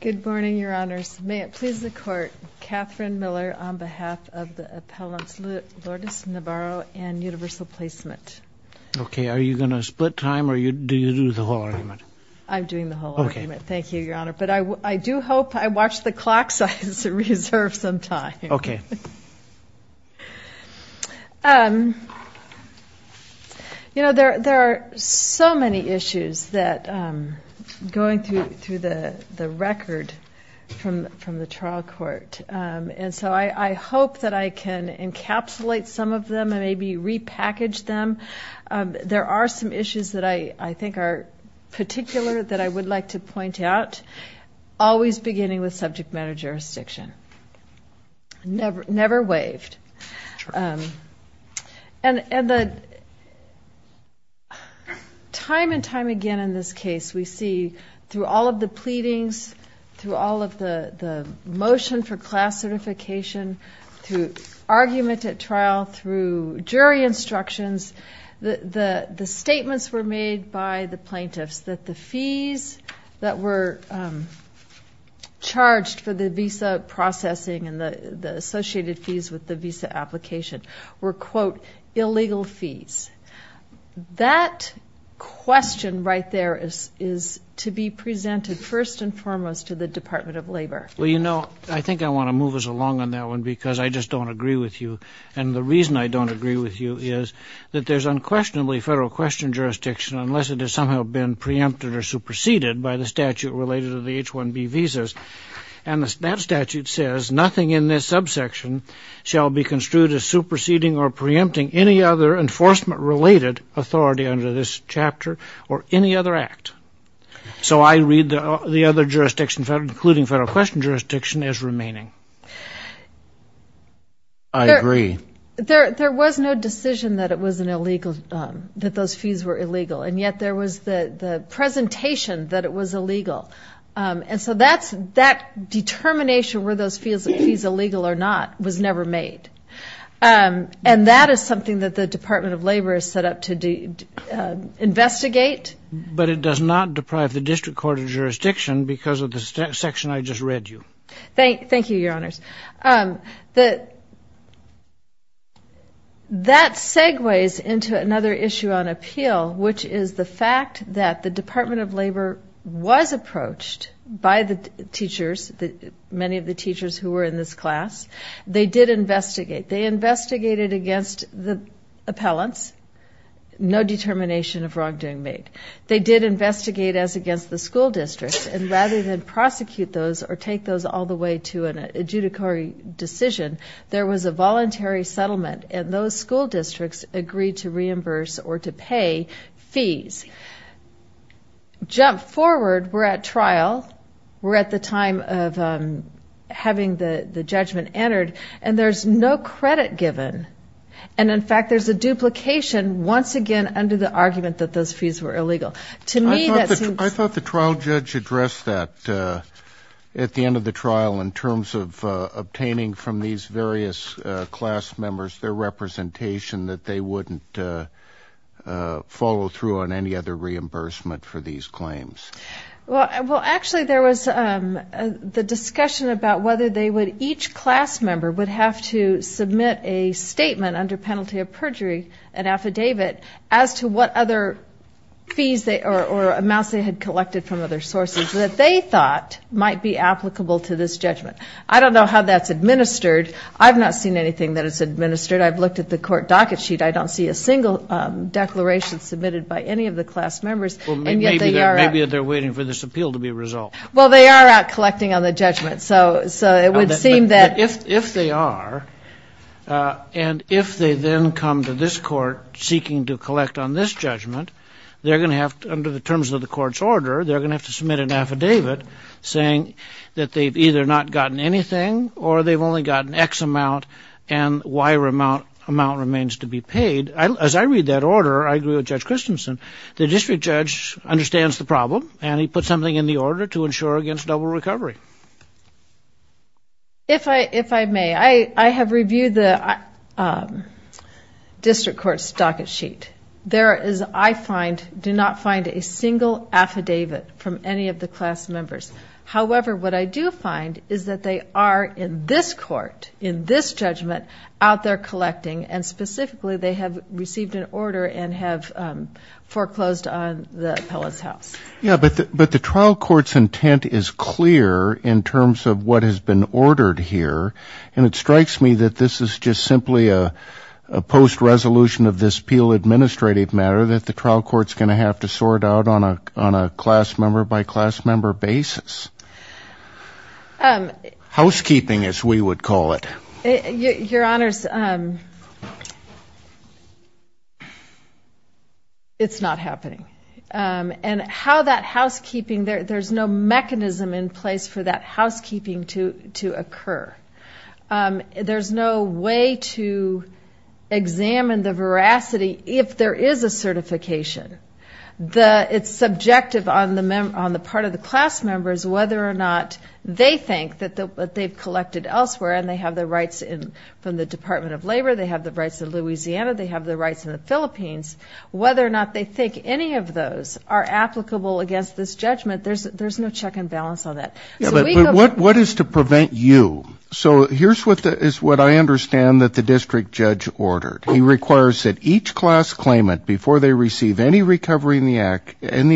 Good morning, Your Honors. May it please the Court, Katherine Miller on behalf of the appellants Lourdes Navarro and Universal Placement. Okay, are you going to split time or do you do the whole argument? I'm doing the whole argument. Thank you, Your Honor. But I do hope I watch the clock so I can reserve some time. Okay. You know, there are so many issues going through the record from the trial court. And so I hope that I can encapsulate some of them and maybe repackage them. There are some issues that I think are particular that I would like to point out, always beginning with subject matter jurisdiction. Never waived. And time and time again in this case, we see through all of the pleadings, through all of the motion for class certification, through argument at trial, through jury instructions, the statements were made by the plaintiffs that the fees that were charged for the visa processing and the associated fees with the visa application were, quote, illegal fees. That question right there is to be presented first and foremost to the Department of Labor. Well, you know, I think I want to move us along on that one because I just don't agree with you. And the reason I don't agree with you is that there's unquestionably federal question jurisdiction unless it has somehow been preempted or superseded by the statute related to the H-1B visas. And that statute says nothing in this subsection shall be construed as superseding or preempting any other enforcement-related authority under this chapter or any other act. So I read the other jurisdictions, including federal question jurisdiction, as remaining. I agree. There was no decision that it was an illegal, that those fees were illegal. And yet there was the presentation that it was illegal. And so that determination were those fees illegal or not was never made. And that is something that the Department of Labor is set up to investigate. But it does not deprive the district court of jurisdiction because of the section I just read you. Thank you, Your Honors. That segues into another issue on appeal, which is the fact that the Department of Labor was approached by the teachers, many of the teachers who were in this class. They did investigate. They investigated against the appellants. No determination of wrongdoing made. They did investigate as against the school districts. And rather than prosecute those or take those all the way to an adjudicatory decision, there was a voluntary settlement. And those school districts agreed to reimburse or to pay fees. Jump forward. We're at trial. We're at the time of having the judgment entered. And there's no credit given. And, in fact, there's a duplication once again under the argument that those fees were illegal. To me, that seems... I thought the trial judge addressed that at the end of the trial in terms of obtaining from these various class members their representation that they wouldn't follow through on any other reimbursement for these claims. Well, actually, there was the discussion about whether each class member would have to submit a statement under penalty of perjury, an affidavit, as to what other fees or amounts they had collected from other sources that they thought might be applicable to this judgment. I don't know how that's administered. I've not seen anything that is administered. I've looked at the court docket sheet. I don't see a single declaration submitted by any of the class members. Well, maybe they're waiting for this appeal to be resolved. Well, they are out collecting on the judgment. So it would seem that... If they are, and if they then come to this court seeking to collect on this judgment, they're going to have to, under the terms of the court's order, they're going to have to submit an affidavit saying that they've either not gotten anything or they've only gotten X amount and Y amount remains to be paid. As I read that order, I agree with Judge Christensen. The district judge understands the problem, and he put something in the order to ensure against double recovery. If I may, I have reviewed the district court's docket sheet. There is, I find, do not find a single affidavit from any of the class members. However, what I do find is that they are in this court, in this judgment, out there collecting, and specifically they have received an order and have foreclosed on the appellate's house. Yeah, but the trial court's intent is clear in terms of what has been ordered here, and it strikes me that this is just simply a post-resolution of this appeal administrative matter that the trial court's going to have to sort out on a class-member-by-class-member basis. Housekeeping, as we would call it. Your Honors, it's not happening. And how that housekeeping, there's no mechanism in place for that housekeeping to occur. There's no way to examine the veracity if there is a certification. It's subjective on the part of the class members whether or not they think that they've collected elsewhere and they have the rights from the Department of Labor, they have the rights in Louisiana, they have the rights in the Philippines. Whether or not they think any of those are applicable against this judgment, there's no check and balance on that. Yeah, but what is to prevent you? So here's what I understand that the district judge ordered. He requires that each class claimant, before they receive any recovery in the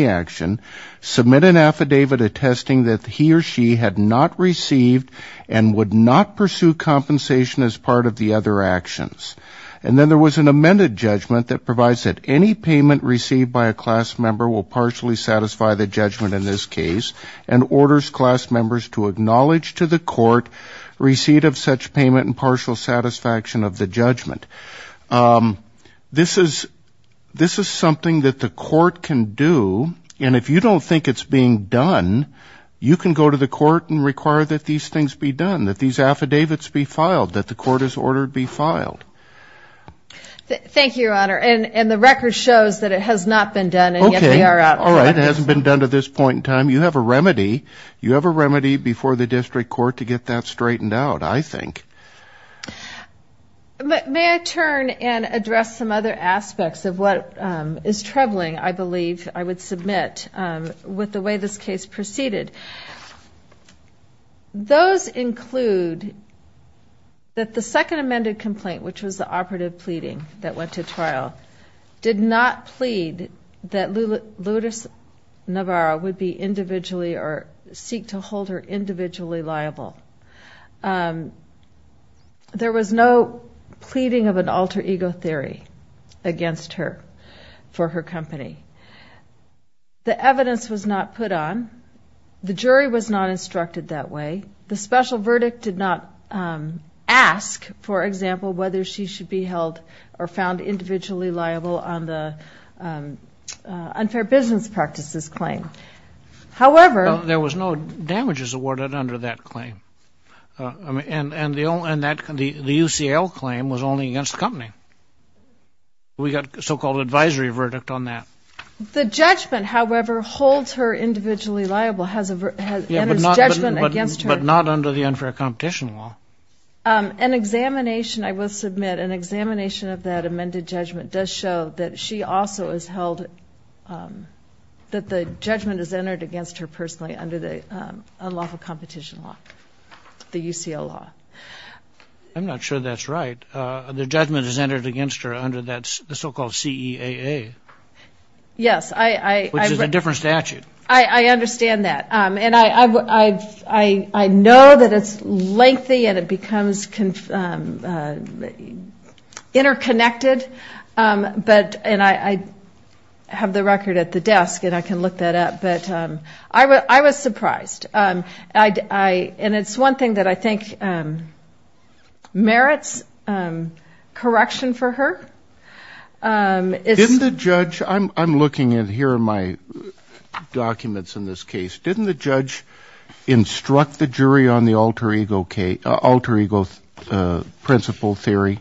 action, submit an affidavit attesting that he or she had not received and would not pursue compensation as part of the other actions. And then there was an amended judgment that provides that any payment received by a class member will partially satisfy the judgment in this case, and orders class members to acknowledge to the court receipt of such payment and partial satisfaction of the judgment. This is something that the court can do, and if you don't think it's being done, you can go to the court and require that these things be done, that these affidavits be filed, that the court has ordered be filed. Thank you, Your Honor. And the record shows that it has not been done, and yet they are out front. Okay. All right. It hasn't been done to this point in time. You have a remedy. You have a remedy before the district court to get that straightened out, I think. May I turn and address some other aspects of what is troubling, I believe, I would submit, with the way this case proceeded. Those include that the second amended complaint, which was the operative pleading that went to trial, did not plead that Lourdes Navarro would be individually or seek to hold her individually liable. There was no pleading of an alter ego theory against her for her company. The evidence was not put on. The jury was not instructed that way. The special verdict did not ask, for example, whether she should be held or found individually liable on the unfair business practices claim. There was no damages awarded under that claim. And the UCL claim was only against the company. We got a so-called advisory verdict on that. The judgment, however, holds her individually liable and is judgment against her. But not under the unfair competition law. An examination, I will submit, an examination of that amended judgment does show that she also is held, that the judgment is entered against her personally under the unlawful competition law, the UCL law. I'm not sure that's right. The judgment is entered against her under that so-called CEAA. Yes. Which is a different statute. I understand that. And I know that it's lengthy and it becomes interconnected. And I have the record at the desk and I can look that up. But I was surprised. And it's one thing that I think merits correction for her. Didn't the judge, I'm looking here in my documents in this case, didn't the judge instruct the jury on the alter ego principle theory?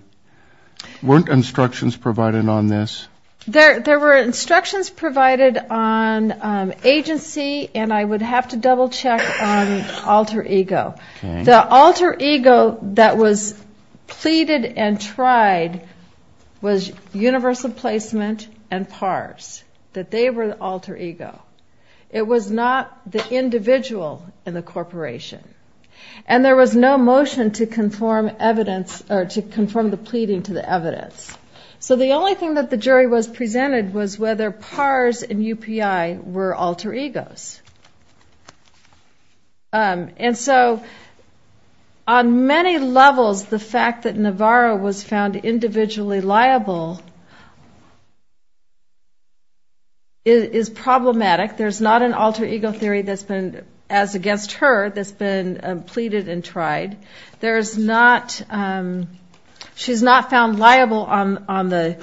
Weren't instructions provided on this? There were instructions provided on agency and I would have to double check on alter ego. The alter ego that was pleaded and tried was universal placement and PARs, that they were the alter ego. It was not the individual in the corporation. And there was no motion to conform evidence or to conform the pleading to the evidence. So the only thing that the jury was presented was whether PARs and UPI were alter egos. And so on many levels, the fact that Navarro was found individually liable is problematic. There's not an alter ego theory that's been, as against her, that's been pleaded and tried. There's not, she's not found liable on the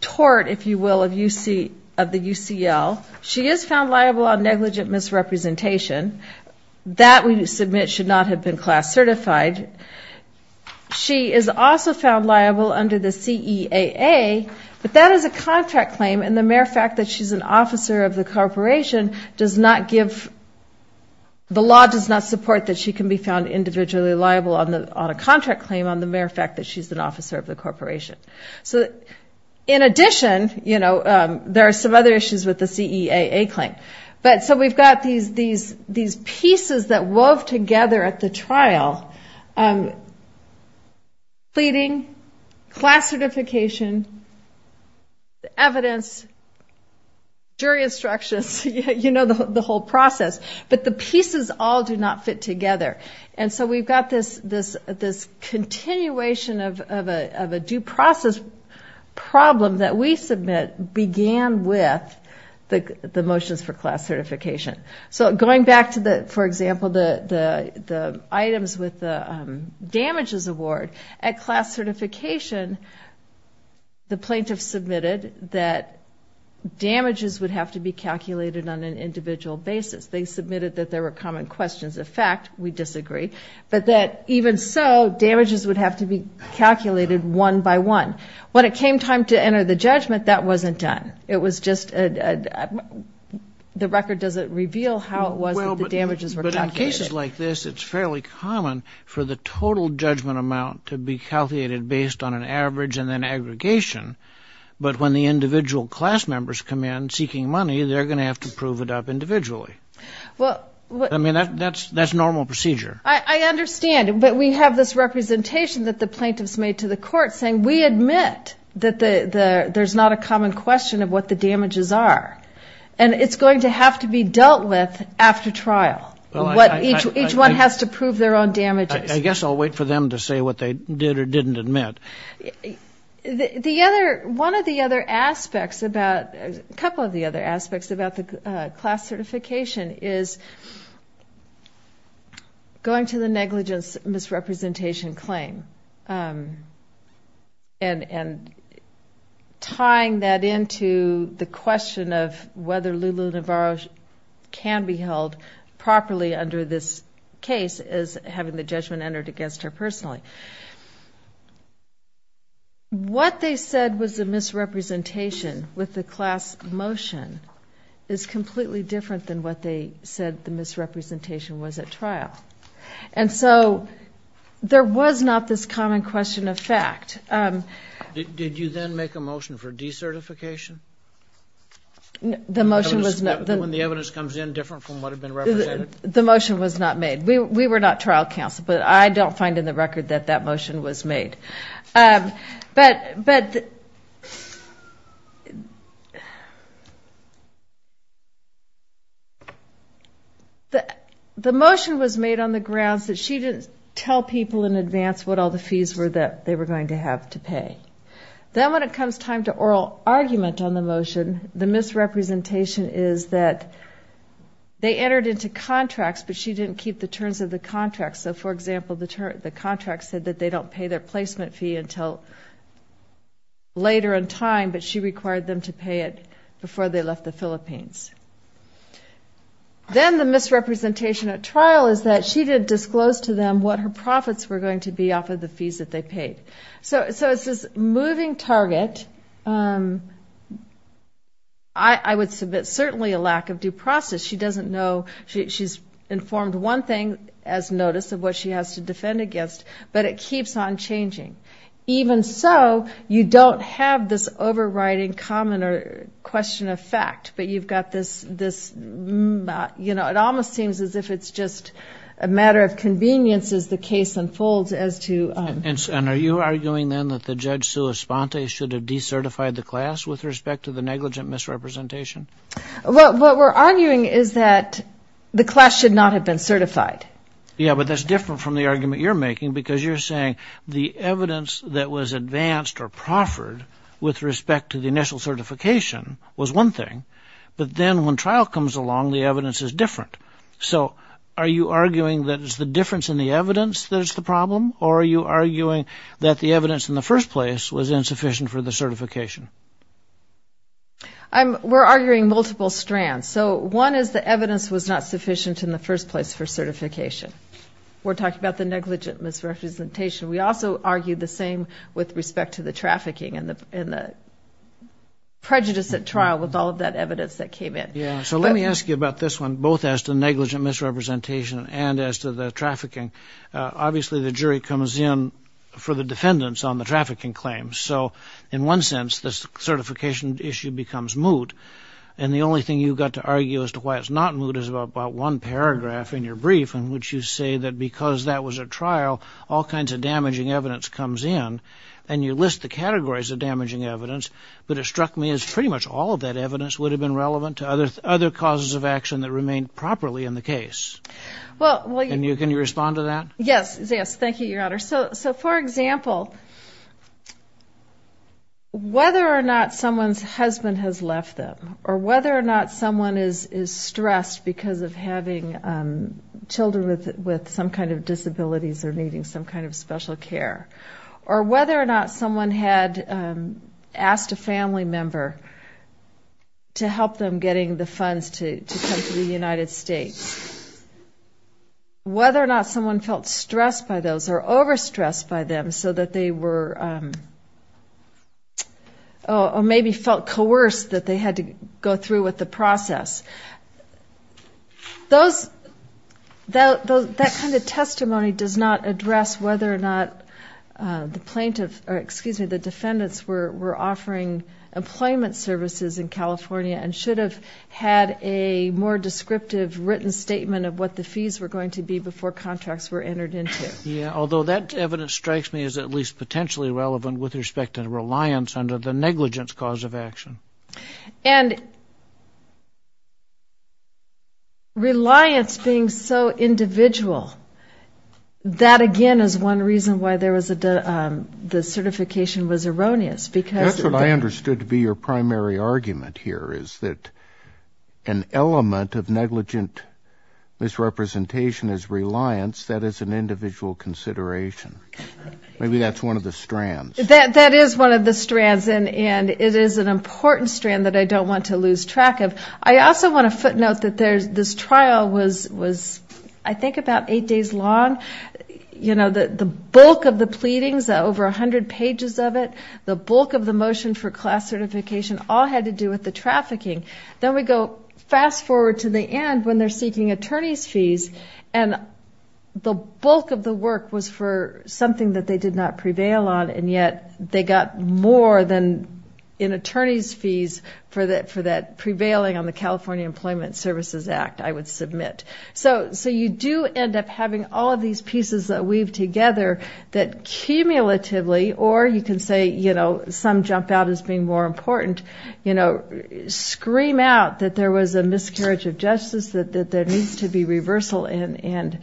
tort, if you will, of the UCL. She is found liable on negligent misrepresentation. That, we submit, should not have been class certified. She is also found liable under the CEAA, but that is a contract claim, and the mere fact that she's an officer of the corporation does not give, the law does not support that she can be found individually liable on a contract claim, on the mere fact that she's an officer of the corporation. So in addition, you know, there are some other issues with the CEAA claim. But so we've got these pieces that wove together at the trial, pleading, class certification, evidence, jury instructions, you know, the whole process. But the pieces all do not fit together. And so we've got this continuation of a due process problem that we submit began with the motions for class certification. So going back to the, for example, the items with the damages award, at class certification the plaintiff submitted that damages would have to be calculated on an individual basis. They submitted that there were common questions. In fact, we disagree, but that even so, damages would have to be calculated one by one. When it came time to enter the judgment, that wasn't done. It was just a, the record doesn't reveal how it was that the damages were calculated. But in cases like this, it's fairly common for the total judgment amount to be calculated based on an average and then aggregation, but when the individual class members come in seeking money, they're going to have to prove it up individually. I mean, that's normal procedure. I understand, but we have this representation that the plaintiffs made to the court saying, we admit that there's not a common question of what the damages are. And it's going to have to be dealt with after trial. Each one has to prove their own damages. I guess I'll wait for them to say what they did or didn't admit. The other, one of the other aspects about, a couple of the other aspects about the class certification is going to the negligence misrepresentation claim and tying that into the question of whether Lulu Navarro can be held properly under this case as having the judgment entered against her personally. What they said was a misrepresentation with the class motion is completely different than what they said the misrepresentation was at trial. And so there was not this common question of fact. Did you then make a motion for decertification? The motion was not. When the evidence comes in different from what had been represented? The motion was not made. We were not trial counsel, but I don't find in the record that that motion was made. But the motion was made on the grounds that she didn't tell people in advance what all the fees were that they were going to have to pay. Then when it comes time to oral argument on the motion, the misrepresentation is that they entered into contracts, but she didn't keep the terms of the contract. So, for example, the contract said that they don't pay their placement fee until later in time, but she required them to pay it before they left the Philippines. Then the misrepresentation at trial is that she didn't disclose to them what her profits were going to be off of the fees that they paid. So it's this moving target. I would submit certainly a lack of due process. She doesn't know. She's informed one thing as notice of what she has to defend against, but it keeps on changing. Even so, you don't have this overriding common question of fact, but you've got this, you know, it almost seems as if it's just a matter of convenience as the case unfolds as to. And are you arguing then that the judge, Sue Esponte, should have decertified the class with respect to the negligent misrepresentation? Well, what we're arguing is that the class should not have been certified. Yeah, but that's different from the argument you're making because you're saying the evidence that was advanced or proffered with respect to the initial certification was one thing. But then when trial comes along, the evidence is different. So are you arguing that it's the difference in the evidence that is the problem, or are you arguing that the evidence in the first place was insufficient for the certification? We're arguing multiple strands. So one is the evidence was not sufficient in the first place for certification. We're talking about the negligent misrepresentation. We also argue the same with respect to the trafficking and the prejudice at trial with all of that evidence that came in. Yeah, so let me ask you about this one, both as to negligent misrepresentation and as to the trafficking. Obviously, the jury comes in for the defendants on the trafficking claims. So in one sense, this certification issue becomes moot. And the only thing you've got to argue as to why it's not moot is about one paragraph in your brief in which you say that because that was a trial, all kinds of damaging evidence comes in. And you list the categories of damaging evidence, but it struck me as pretty much all of that evidence would have been relevant to other causes of action that remained properly in the case. Can you respond to that? Yes, thank you, Your Honor. So for example, whether or not someone's husband has left them, or whether or not someone is stressed because of having children with some kind of disabilities or needing some kind of special care, or whether or not someone had asked a family member to help them getting the funds to come to the United States, whether or not someone felt stressed by those or overstressed by them so that they were, or maybe felt coerced that they had to go through with the process, those, that kind of testimony does not address whether or not the plaintiff, or excuse me, the defendants were offering employment services in California and should have had a more descriptive written statement of what the fees were going to be before contracts were entered into it. Yeah, although that evidence strikes me as at least potentially relevant with respect to the reliance under the negligence cause of action. And reliance being so individual, that again is one reason why the certification was erroneous, because... That's what I understood to be your primary argument here, is that an element of negligent misrepresentation is reliance that is an individual consideration. That is one of the strands, and it is an important strand that I don't want to lose track of. I also want to footnote that this trial was, I think, about eight days long. You know, the bulk of the pleadings, over 100 pages of it, the bulk of the motion for class certification, all had to do with the trafficking. Then we go fast forward to the end when they're seeking attorney's fees, and the bulk of the work was for something that they did not prevail on, and yet they got more than an attorney's fees for that prevailing on the California Employment Services Act, I would submit. So you do end up having all of these pieces that weave together, that cumulatively, or you can say, you know, some jump out as being more important, you know, scream out that there was a miscarriage of justice, that there needs to be reversal, and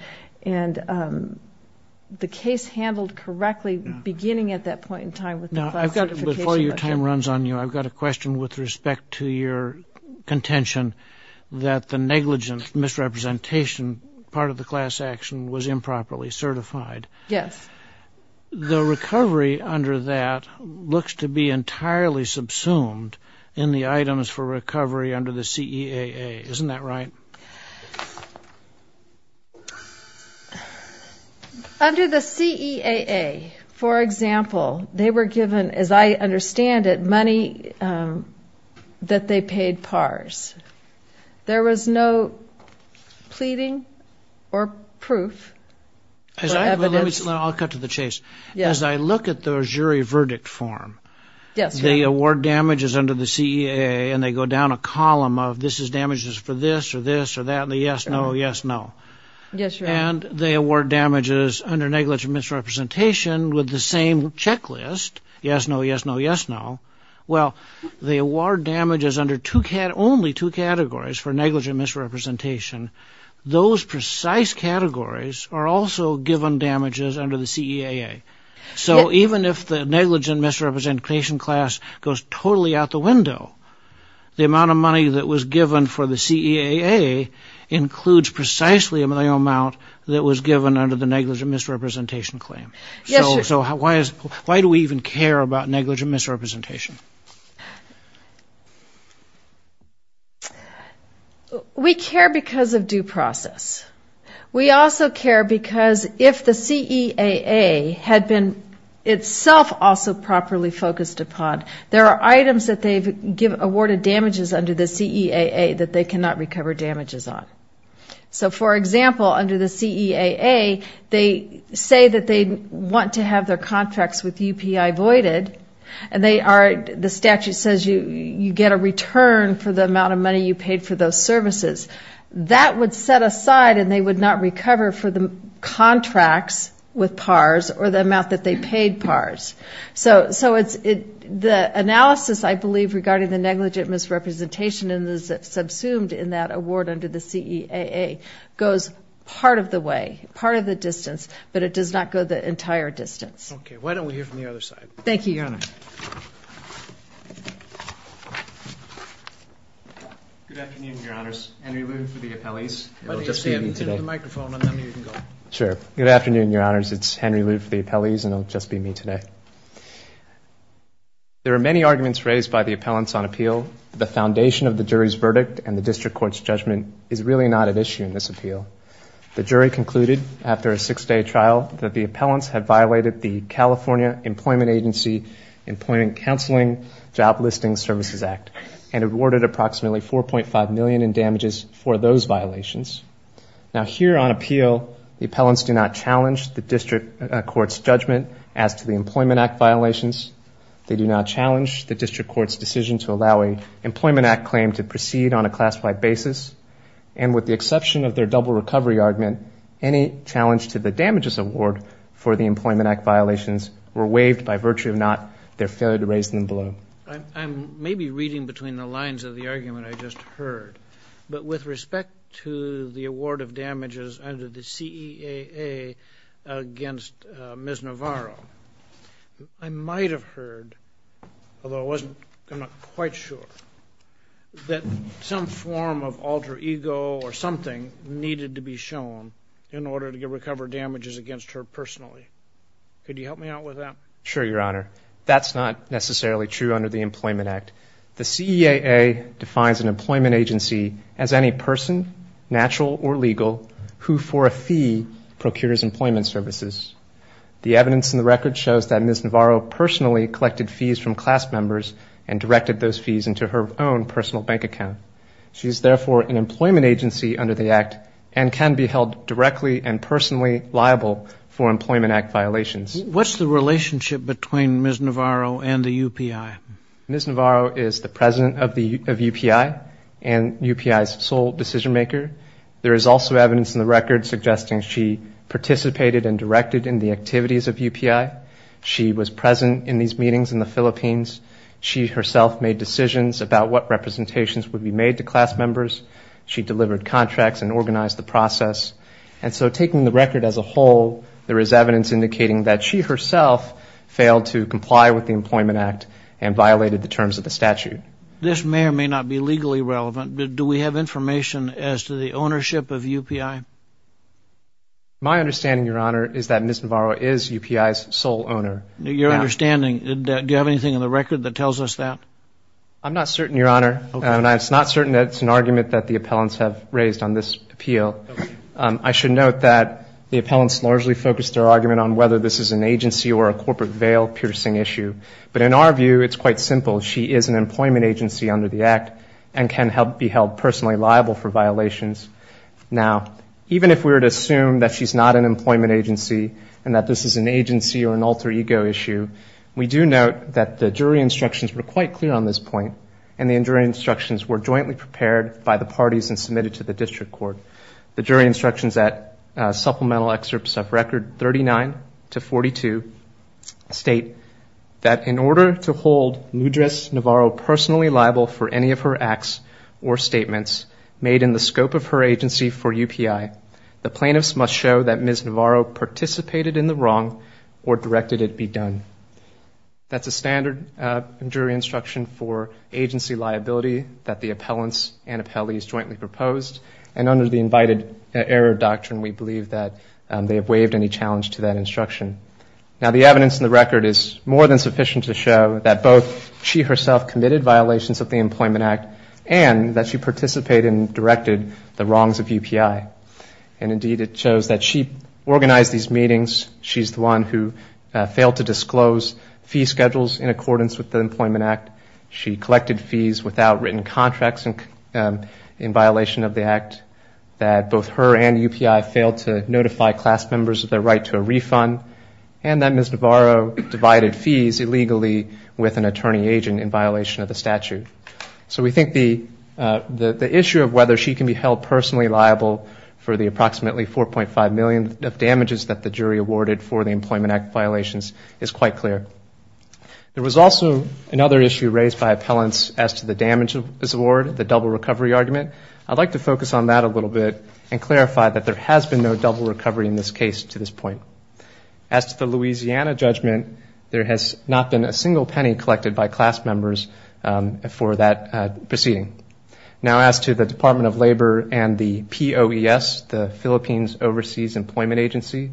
the case handled correctly beginning at that point in time with the class certification. Before your time runs on you, I've got a question with respect to your contention that the negligent misrepresentation part of the class action was improperly certified. Yes. The recovery under that looks to be entirely subsumed in the items for recovery under the CEAA. Isn't that right? Under the CEAA, for example, they were given, as I understand it, money that they paid PARs. There was no pleading or proof. I'll cut to the chase. As I look at the jury verdict form, they award damages under the CEAA, and they go down a column of this is damages for this or this or that, and the yes, no, yes, no. And they award damages under negligent misrepresentation with the same checklist, yes, no, yes, no, yes, no. Well, they award damages under only two categories for negligent misrepresentation. Those precise categories are also given damages under the CEAA. So even if the negligent misrepresentation class goes totally out the window, the amount of money that was given for the CEAA includes precisely the amount that was given under the negligent misrepresentation claim. So why do we even care about negligent misrepresentation? We care because of due process. We also care because if the CEAA had been itself also properly focused upon, there are items that they've awarded damages under the CEAA that they cannot recover damages on. So for example, under the CEAA, they say that they want to have their contracts with UPI voided, and the statute says you get a return for the amount of money you paid for those services. That would set aside and they would not recover for the contracts with PARs or the amount that they paid PARs. So the analysis, I believe, regarding the negligent misrepresentation subsumed in that award under the CEAA goes part of the way, part of the distance, but it does not go the entire distance. Okay. Why don't we hear from the other side? Thank you, Your Honor. Good afternoon, Your Honors. Henry Liu for the appellees. There are many arguments raised by the appellants on appeal. The foundation of the jury's verdict and the district court's judgment is really not at issue in this appeal. The jury concluded after a six-day trial that the appellants had violated the California Employment Agency Employment Counseling Job Listing Services Act and awarded approximately $4.5 million in damages for those violations. Now here on appeal, the appellants do not challenge the district court's judgment as to the Employment Act violations. They do not challenge the district court's decision to allow an Employment Act claim to proceed on a class-wide basis. And with the exception of their double recovery argument, any challenge to the damages award for the Employment Act violations were waived by virtue of not their failure to raise them below. I'm maybe reading between the lines of the argument I just heard. But with respect to the award of damages under the CEAA against Ms. Navarro, I might have heard, although I'm not quite sure, that some form of altercation or alter ego or something needed to be shown in order to recover damages against her personally. Could you help me out with that? Sure, Your Honor. That's not necessarily true under the Employment Act. The CEAA defines an employment agency as any person, natural or legal, who, for a fee, procures employment services. The evidence in the record shows that Ms. Navarro personally collected fees from class members and directed those fees into her own personal bank account. She is therefore an employment agency under the Act and can be held directly and personally liable for Employment Act violations. What's the relationship between Ms. Navarro and the UPI? Ms. Navarro is the president of UPI and UPI's sole decision maker. There is also evidence in the record suggesting she participated and directed in the activities of UPI. She was present in these meetings in the Philippines. She delivered contracts and organized the process. And so taking the record as a whole, there is evidence indicating that she herself failed to comply with the Employment Act and violated the terms of the statute. This may or may not be legally relevant, but do we have information as to the ownership of UPI? My understanding, Your Honor, is that Ms. Navarro is UPI's sole owner. Your understanding, do you have anything in the record that tells us that? I'm not certain, Your Honor, and it's not certain that it's an argument that the appellants have raised on this appeal. I should note that the appellants largely focused their argument on whether this is an agency or a corporate veil piercing issue. But in our view, it's quite simple. She is an employment agency under the Act and can be held personally liable for violations. Now, even if we were to assume that she's not an employment agency and that this is an agency or an alter ego issue, we do note that the jury instructions were quite clear on this point, and the jury instructions were jointly prepared by the parties and submitted to the district court. The jury instructions at supplemental excerpts of Record 39-42 state that in order to hold Nudris Navarro personally liable for any of her acts or statements made in the scope of her agency for UPI, the plaintiffs must show that Ms. Navarro participated in the wrong or directed it be done. That's a standard jury instruction for agency liability that the appellants and appellees jointly proposed, and under the invited error doctrine, we believe that they have waived any challenge to that instruction. Now, the evidence in the record is more than sufficient to show that both she herself committed violations of the Employment Act, and that she participated and directed the wrongs of UPI. And indeed, it shows that she organized these meetings, she's the one who failed to disclose fee schedules in accordance with the Employment Act, she collected fees without written contracts in violation of the Act, that both her and UPI failed to notify class members of their right to a refund, and that Ms. Navarro divided fees illegally with an attorney agent in violation of the statute. So we think the issue of whether she can be held personally liable for the approximately 4.5 million of damages that the jury awarded for the Employment Act violations is quite clear. There was also another issue raised by appellants as to the damage of this award, the double recovery argument. I'd like to focus on that a little bit and clarify that there has been no double recovery in this case to this point. As to the Louisiana judgment, there has not been a single penny collected by class members, for that proceeding. Now, as to the Department of Labor and the POES, the Philippines Overseas Employment Agency,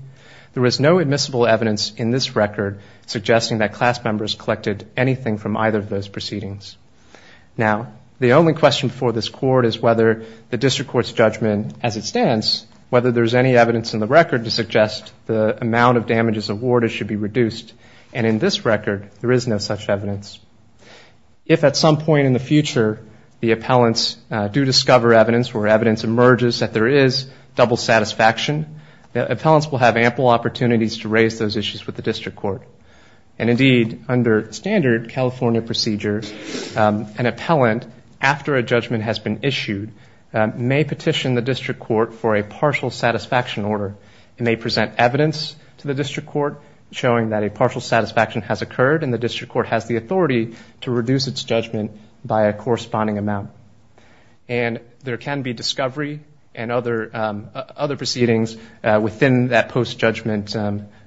there is no admissible evidence in this record suggesting that class members collected anything from either of those proceedings. Now, the only question before this Court is whether the District Court's judgment as it stands, whether there's any evidence in the record to suggest the amount of damages awarded should be reduced, and in this record, there is no such evidence. If at some point in the future the appellants do discover evidence where evidence emerges that there is double satisfaction, the appellants will have ample opportunities to raise those issues with the District Court. And indeed, under standard California procedure, an appellant, after a judgment has been issued, may petition the District Court for a partial satisfaction order. And they present evidence to the District Court showing that a partial satisfaction has occurred, and the District Court has the authority to reduce its judgment by a corresponding amount. And there can be discovery and other proceedings within that post-judgment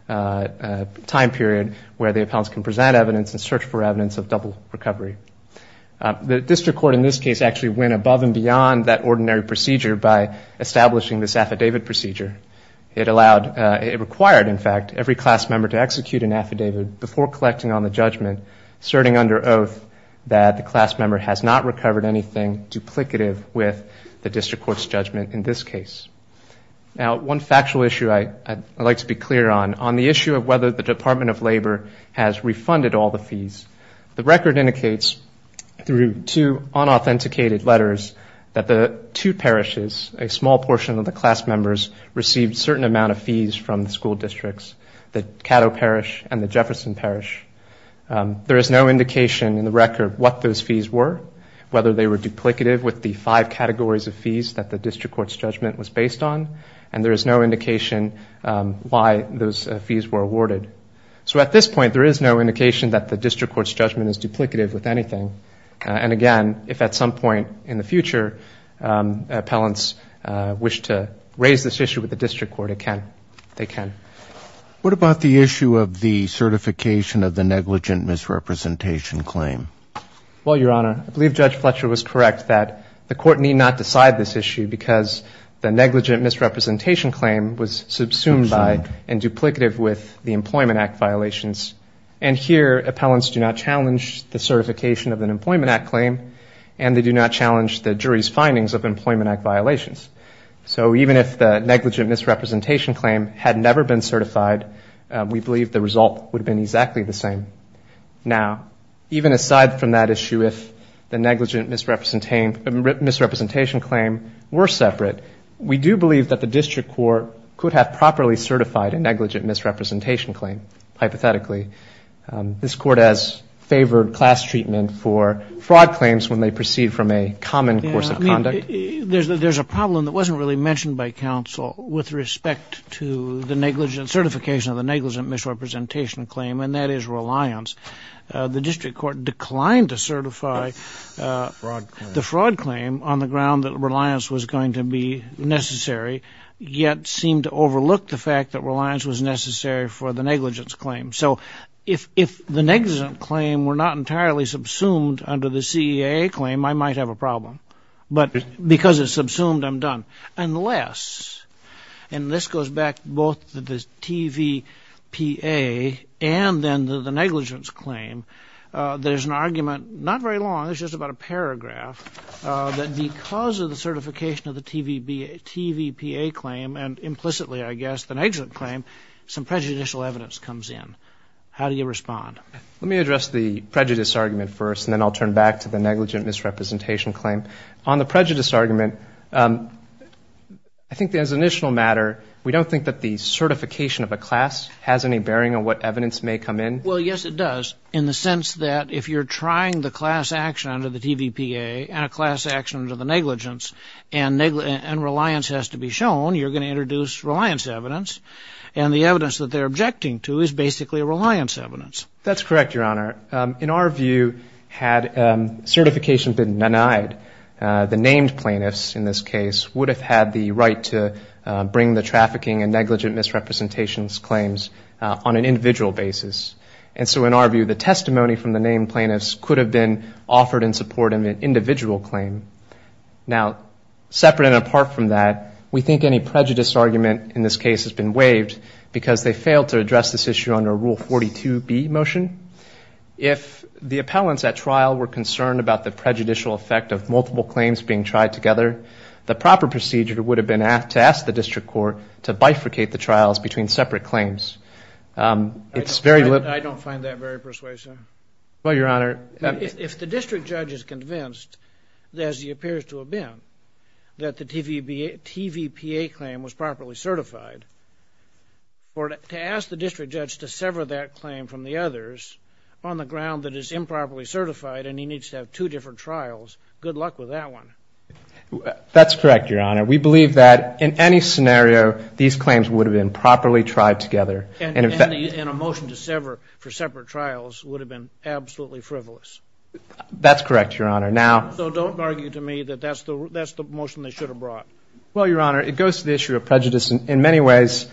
time period where the appellants can present evidence and search for evidence of double recovery. The District Court in this case actually went above and beyond that ordinary procedure by establishing this affidavit procedure. It required, in fact, every class member to execute an affidavit before collecting on the judgment, asserting under oath that the class member has not recovered anything duplicative with the District Court's judgment in this case. Now, one factual issue I'd like to be clear on, on the issue of whether the Department of Labor has refunded all the fees, the record indicates, through two unauthenticated letters, that the two parishes, a small portion of the class members, received certain amount of fees from the school districts, the Caddo Parish and the Jefferson Parish. There is no indication in the record what those fees were, whether they were duplicative with the five categories of fees that the District Court's judgment was based on, and there is no indication why those fees were awarded. So at this point, there is no indication that the District Court's judgment is duplicative with anything. And again, if at some point in the future appellants wish to raise this issue with the District Court, they can. What about the issue of the certification of the negligent misrepresentation claim? Well, Your Honor, I believe Judge Fletcher was correct that the Court need not decide this issue because the negligent misrepresentation claim was subsumed by and duplicative with the Employment Act violations, and here appellants do not challenge the certification of an Employment Act claim, and they do not challenge the jury's findings of Employment Act violations. So even if the negligent misrepresentation claim had never been certified, we believe the result would have been exactly the same. Now, even aside from that issue, if the negligent misrepresentation claim were separate, we do believe that the District Court could have properly certified a negligent misrepresentation claim, hypothetically. This Court has favored class treatment for fraud claims when they proceed from a common course of conduct. I mean, there's a problem that wasn't really mentioned by counsel with respect to the negligent certification of the negligent misrepresentation claim, and that is reliance. The District Court declined to certify the fraud claim on the ground that reliance was going to be necessary, yet seemed to overlook the fact that reliance was necessary for the negligence claim. So if the negligent claim were not entirely subsumed under the CEAA claim, I might have a problem. Unless, and this goes back both to the TVPA and then to the negligence claim, there's an argument, not very long, it's just about a paragraph, that because of the certification of the TVPA claim, and implicitly, I guess, the negligent claim, some prejudicial evidence comes in. How do you respond? Let me address the prejudice argument first, and then I'll turn back to the negligent misrepresentation claim. On the prejudice argument, I think as an initial matter, we don't think that the certification of a class has any bearing on what evidence may come in. Well, yes, it does, in the sense that if you're trying the class action under the TVPA, and a class action under the negligence, and reliance has to be shown, you're going to introduce reliance evidence, and the evidence that they're objecting to is basically reliance evidence. That's correct, Your Honor. In our view, had certification been denied, the named plaintiffs, in this case, would have had the right to bring the trafficking and negligent misrepresentations claims on an individual basis. And so in our view, the testimony from the named plaintiffs could have been offered in support of an individual claim. Now, separate and apart from that, we think any prejudice argument in this case has been waived, because they failed to address this issue under Rule 42B motion. If the appellants at trial were concerned about the prejudicial effect of multiple claims being tried together, the proper procedure would have been to ask the district court to bifurcate the trials between separate claims. I don't find that very persuasive. Well, Your Honor, if the district judge is convinced, as he appears to have been, that the TVPA claim was properly certified, to ask the district judge to sever that claim from the others on the ground that it's improperly certified, and he needs to have two different trials, good luck with that one. That's correct, Your Honor. We believe that in any scenario, these claims would have been properly tried together. And a motion to sever for separate trials would have been absolutely frivolous. That's correct, Your Honor. So don't argue to me that that's the motion they should have brought. Well, Your Honor, it goes to the issue of prejudice in many ways.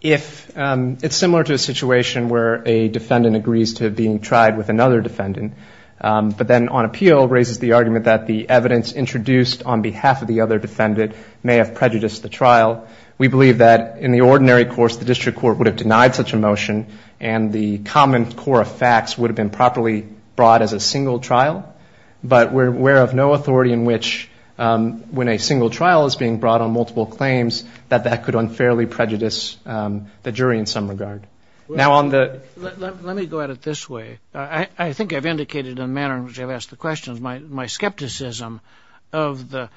It's similar to a situation where a defendant agrees to being tried with another defendant, but then on appeal raises the argument that the evidence introduced on behalf of the other defendant may have prejudiced the trial. We believe that in the ordinary course, the district court would have denied such a motion, and the common core of facts would have been properly brought as a single trial. But we're aware of no authority in which, when a single trial is being brought on multiple claims, that that could unfairly prejudice the jury in some regard. Let me go at it this way. I think I've indicated in the manner in which I've asked the questions, my skepticism of the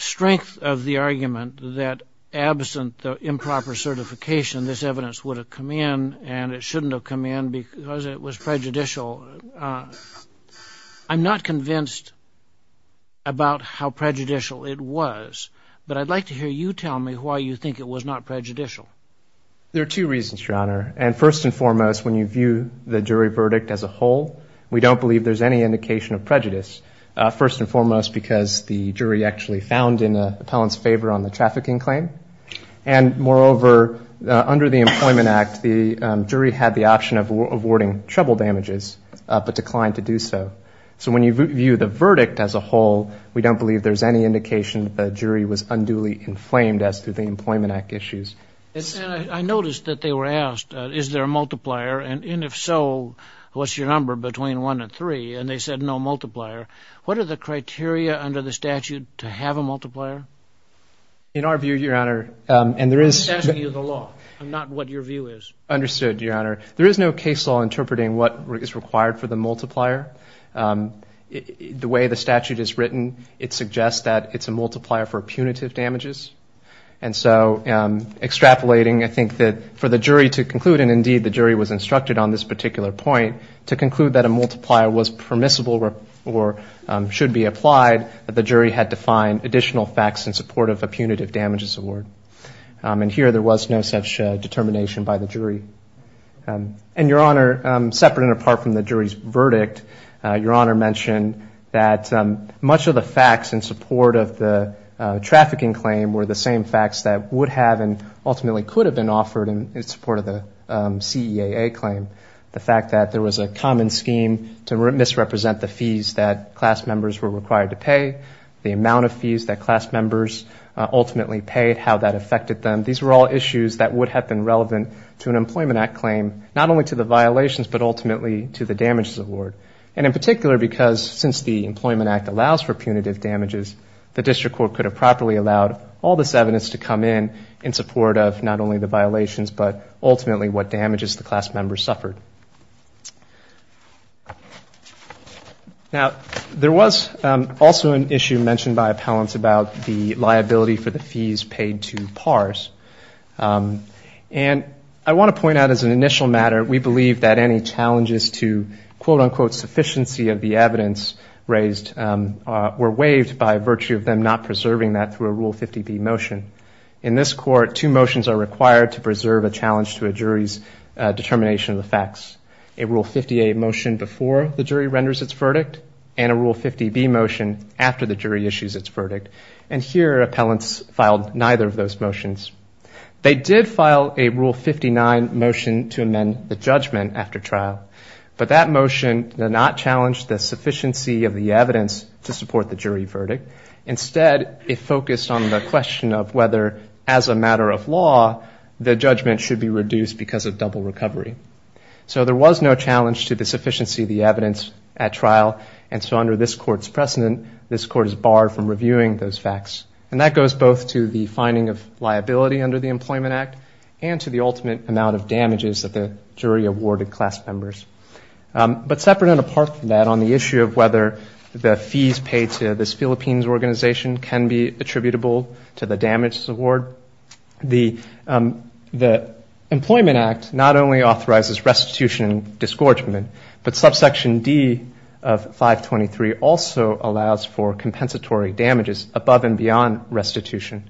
strength of the argument that absent the improper certification, this evidence would have come in and it shouldn't have come in because it was prejudicial. I'm not convinced about how prejudicial it was, but I'd like to hear you tell me why you think it was not prejudicial. There are two reasons, Your Honor, and first and foremost, when you view the jury verdict as a whole, we don't believe there's any indication of prejudice, first and foremost because the jury actually found in the appellant's favor on the trafficking claim. And moreover, under the Employment Act, the jury had the option of awarding trouble damages, but declined to do so. So when you view the verdict as a whole, we don't believe there's any indication the jury was unduly inflamed as to the Employment Act issues. I noticed that they were asked, is there a multiplier, and if so, what's your number between one and three? And they said no multiplier. What are the criteria under the statute to have a multiplier? In our view, Your Honor, and there is no case law interpreting what is required for the multiplier. The way the statute is written, it suggests that it's a multiplier for punitive damages. And so extrapolating, I think that for the jury to conclude, and indeed the jury was instructed on this particular point, to conclude that a multiplier was permissible or should be applied, the jury had to find additional factors in support of a punitive damages award. And here there was no such determination by the jury. And Your Honor, separate and apart from the jury's verdict, Your Honor mentioned that much of the facts in support of the trafficking claim were the same facts that would have and ultimately could have been offered in support of the CEAA claim. The fact that there was a common scheme to misrepresent the fees that class members were required to pay, the amount of fees that class members ultimately paid, how that affected them, these were all issues that would have been relevant to an Employment Act claim, not only to the violations but ultimately to the damages award. And in particular because since the Employment Act allows for punitive damages, the District Court could have properly allowed all this evidence to come in in support of not only the violations but ultimately what damages the class members suffered. Now, there was also an issue mentioned by appellants about the liability for the fees paid to PARs. And I want to point out as an initial matter, we believe that any challenges to quote-unquote sufficiency of the evidence raised were waived by virtue of them not preserving that through a Rule 50B motion. In this Court, two motions are required to preserve a challenge to a jury's determination of the facts, a Rule 58 motion before the jury renders its verdict and a Rule 50B motion after the jury issues its verdict. And here appellants filed neither of those motions. They did file a Rule 59 motion to amend the judgment after trial, but that motion did not challenge the sufficiency of the evidence to support the jury verdict. Instead, it focused on the question of whether, as a matter of law, the judgment should be reduced because of double recovery. So there was no challenge to the sufficiency of the evidence at trial, and so under this Court's precedent, this Court is barred from reviewing those facts. And that goes both to the finding of liability under the Employment Act and to the ultimate amount of damages that the jury awarded class members. But separate and apart from that, on the issue of whether the fees paid to this Philippines organization can be attributable to the damages award, the Employment Act not only authorizes restitution and disgorgement, but subsection D of 523 also allows for compensatory damages above and beyond restitution.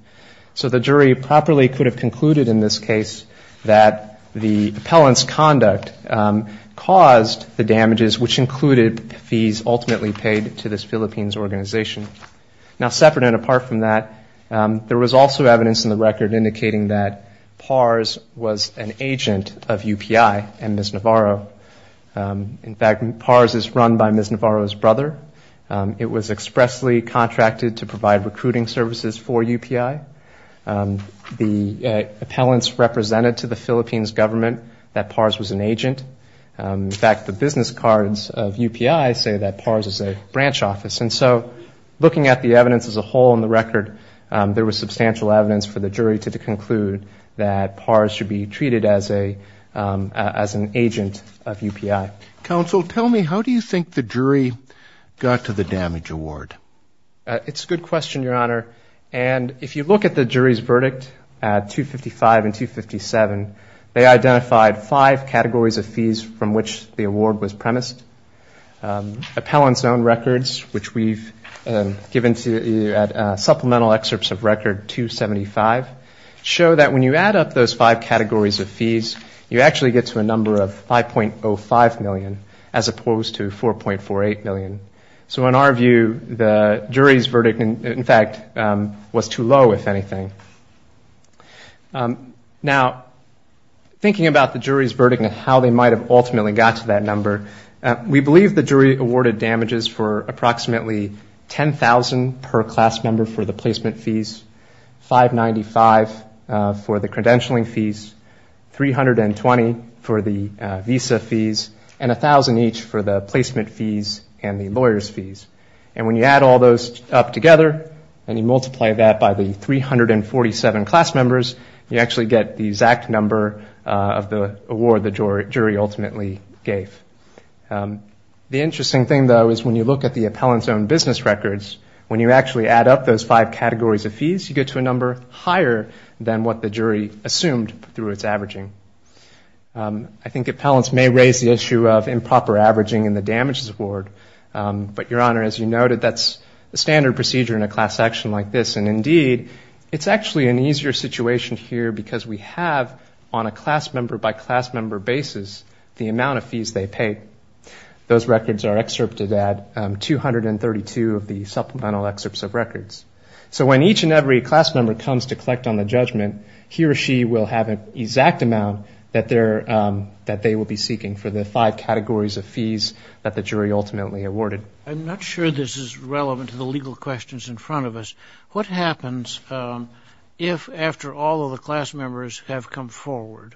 So the jury properly could have concluded in this case that the appellant's conduct caused the damages, which included fees ultimately paid to this Philippines organization. Now separate and apart from that, there was also evidence in the record indicating that PARS was an agent of UPI and Ms. Navarro. In fact, PARS is run by Ms. Navarro's brother. It was expressly contracted to provide recruiting services for UPI. The appellants represented to the Philippines government that PARS was an agent. In fact, the business cards of UPI say that PARS is a branch office. And so looking at the evidence as a whole in the record, there was substantial evidence for the jury to conclude that PARS should be treated as an agent of UPI. Counsel, tell me, how do you think the jury got to the damage award? It's a good question, Your Honor, and if you look at the jury's verdict at 255 and 257, they identified five categories of fees from which the award was premised. Appellant's own records, which we've given to you at supplemental excerpts of record 275, show that when you add up those five categories of fees, you actually get to a number of 5.05 million as opposed to 4.48 million. So in our view, the jury's verdict, in fact, was too low, if anything. Now, thinking about the jury's verdict and how they might have ultimately got to that number, we believe the jury awarded damages for approximately 10,000 per class member for the placement fees, 595 for the credentialing fees, 320 for the visa fees, and 1,000 each for the placement fees and the lawyer's fees. And when you add all those up together and you multiply that by the 347 class members, you actually get the exact number of the award the jury ultimately gave. The interesting thing, though, is when you look at the appellant's own business records, when you actually add up those five categories of fees, you get to a number higher than what the jury assumed through its averaging. I think appellants may raise the issue of improper averaging in the damages award, but, Your Honor, as you noted, that's a standard procedure in a class action like this, and indeed, it's actually an easier situation here because we have, on a class member-by-class member basis, the amount of fees they paid. Those records are excerpted at 232 of the supplemental excerpts of records. So when each and every class member comes to collect on the judgment, he or she will have an exact amount that they will be seeking for the five categories of fees that the jury ultimately awarded. I'm not sure this is relevant to the legal questions in front of us. What happens if, after all of the class members have come forward,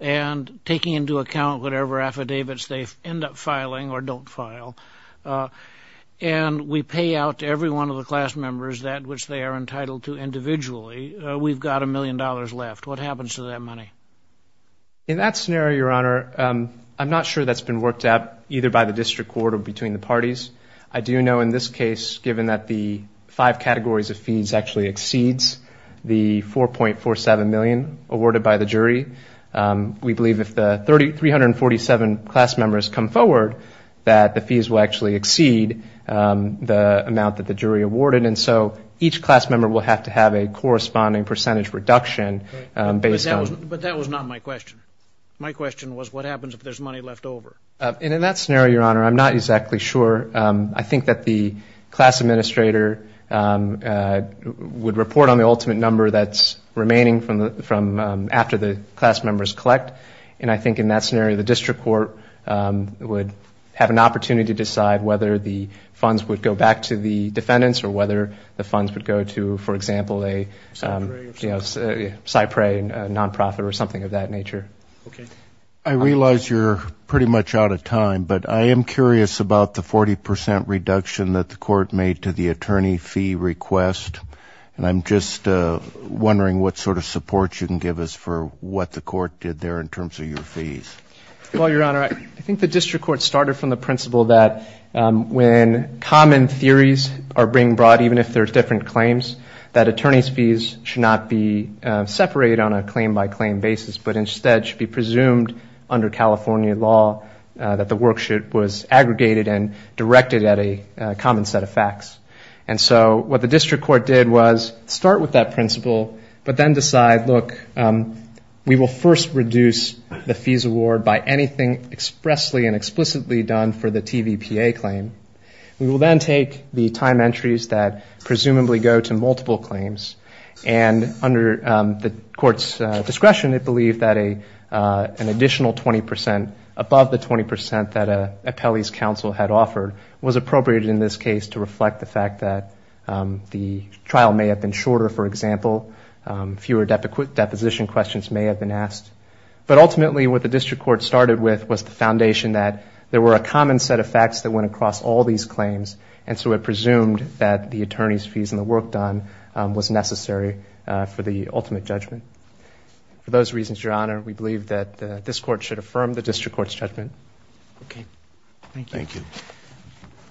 and taking into account whatever affidavits they end up filing or don't file, and we pay out to every one of the class members that which they are entitled to individually, we've got a million dollars left? What happens to that money? In that scenario, Your Honor, I'm not sure that's been worked out either by the district court or between the parties. I do know, in this case, given that the five categories of fees actually exceeds the 4.47 million awarded by the jury, we believe if the 347 class members come forward, that the fees will actually exceed the amount that the jury awarded. And so each class member will have to have a corresponding percentage reduction based on... But that was not my question. My question was what happens if there's money left over? And in that scenario, Your Honor, I'm not exactly sure. I think that the class administrator would report on the ultimate number that's remaining from after the class members collect. And I think in that scenario, the district court would have an opportunity to decide whether the funds would go back to the defendants or whether the funds would go to, for example, a... Cypre non-profit or something of that nature. I realize you're pretty much out of time, but I am curious about the 40 percent reduction that the court made to the attorney fee request. And I'm just wondering what sort of support you can give us for what the court did there in terms of your fees. Well, Your Honor, I think the district court started from the principle that when common theories are being brought, even if they're different claims, that attorney's fees should not be separated on a claim-by-claim basis, but instead should be presumed under California law that the worksheet was aggregated and directed at a common set of facts. And so what the district court did was start with that principle, but then decide, look, we will first reduce the fees award by anything expressly and explicitly done for the TVPA claim. We will then take the time entries that presumably go to multiple claims. And under the court's discretion, it believed that an additional 20 percent, above the 20 percent that an appellee's counsel had offered, was appropriate in this case to reflect the fact that the trial may have been shorter, for example, fewer deposition questions may have been asked. But ultimately what the district court started with was the foundation that there were a common set of facts that went across all these claims, and so it presumed that the attorney's fees and the work done was necessary for the ultimate judgment. For those reasons, Your Honor, we believe that this court should affirm the district court's judgment. Okay. Thank you. Thank you.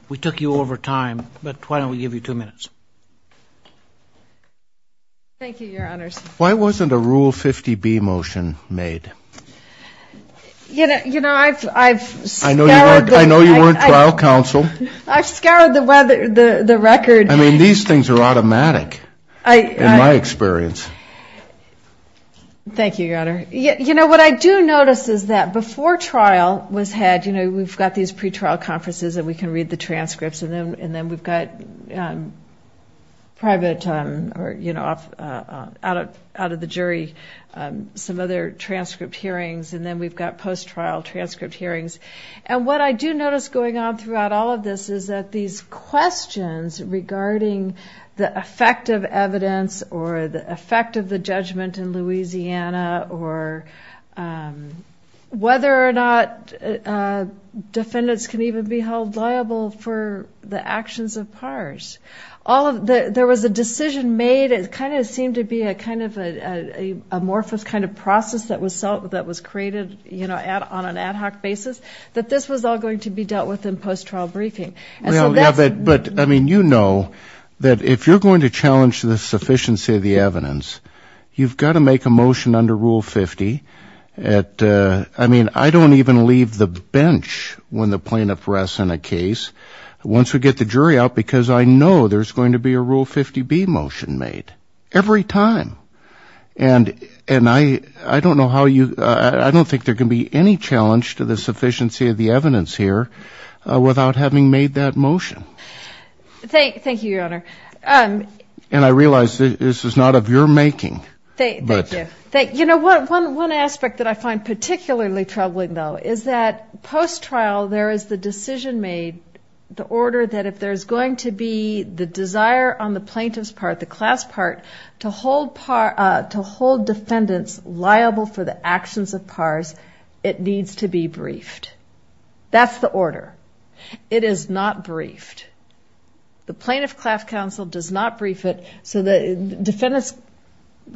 We took you over time, but why don't we give you two minutes? Thank you, Your Honors. Why wasn't a Rule 50B motion made? I know you weren't trial counsel. I mean, these things are automatic, in my experience. Thank you, Your Honor. You know, what I do notice is that before trial was had, you know, we've got these pretrial conferences and we can read the transcripts, and then we've got private, you know, out of the jury, some other transcript hearings, and then we've got post-trial transcript hearings. And what I do notice going on throughout all of this is that these questions regarding the effect of evidence or the effect of the judgment in Louisiana, or whether or not defendants can even be held liable for this kind of thing. And then, you know, the actions of PARs. There was a decision made, it kind of seemed to be a kind of amorphous kind of process that was created, you know, on an ad hoc basis, that this was all going to be dealt with in post-trial briefing. But, I mean, you know that if you're going to challenge the sufficiency of the evidence, you've got to make a motion under Rule 50. I mean, I don't even leave the bench when the plaintiff rests on a case. I get the jury out because I know there's going to be a Rule 50B motion made every time. And I don't know how you, I don't think there can be any challenge to the sufficiency of the evidence here without having made that motion. Thank you, Your Honor. And I realize this is not of your making. Thank you. You know, one aspect that I find particularly troubling, though, is that post-trial there is the decision made, the order that if there's going to be the desire on the plaintiff's part, the class part, to hold defendants liable for the actions of PARs, it needs to be briefed. That's the order. It is not briefed. The Plaintiff Class Counsel does not brief it, so the Defendant's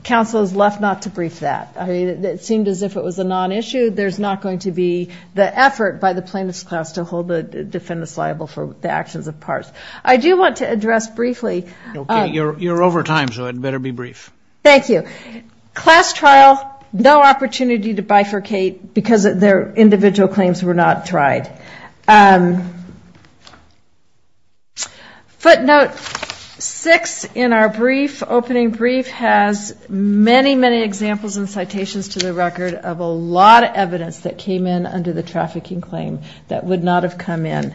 Counsel is left not to brief that. I mean, it seemed as if it was a non-issue, there's not going to be the effort by the Plaintiff's Class to hold the defendants liable for the actions of PARs. I do want to address briefly... Okay, you're over time, so it better be brief. Thank you. Footnote 6 in our brief, opening brief, has many, many examples and citations to the record of a lot of evidence that came in under the trafficking claim that would not have come in.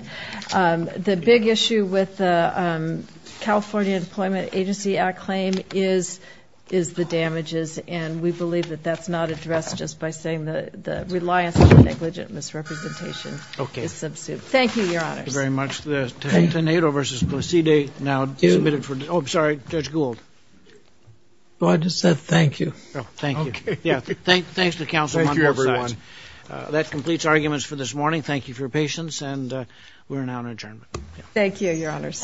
The big issue with the California Deployment Agency Act claim is that it's not a case of, you know, the plaintiff is not liable for the actions of PARs. It's the damages, and we believe that that's not addressed just by saying the reliance on negligent misrepresentation is subsumed. Thank you, Your Honors. Thank you. That completes arguments for this morning. Thank you for your patience, and we are now in adjournment.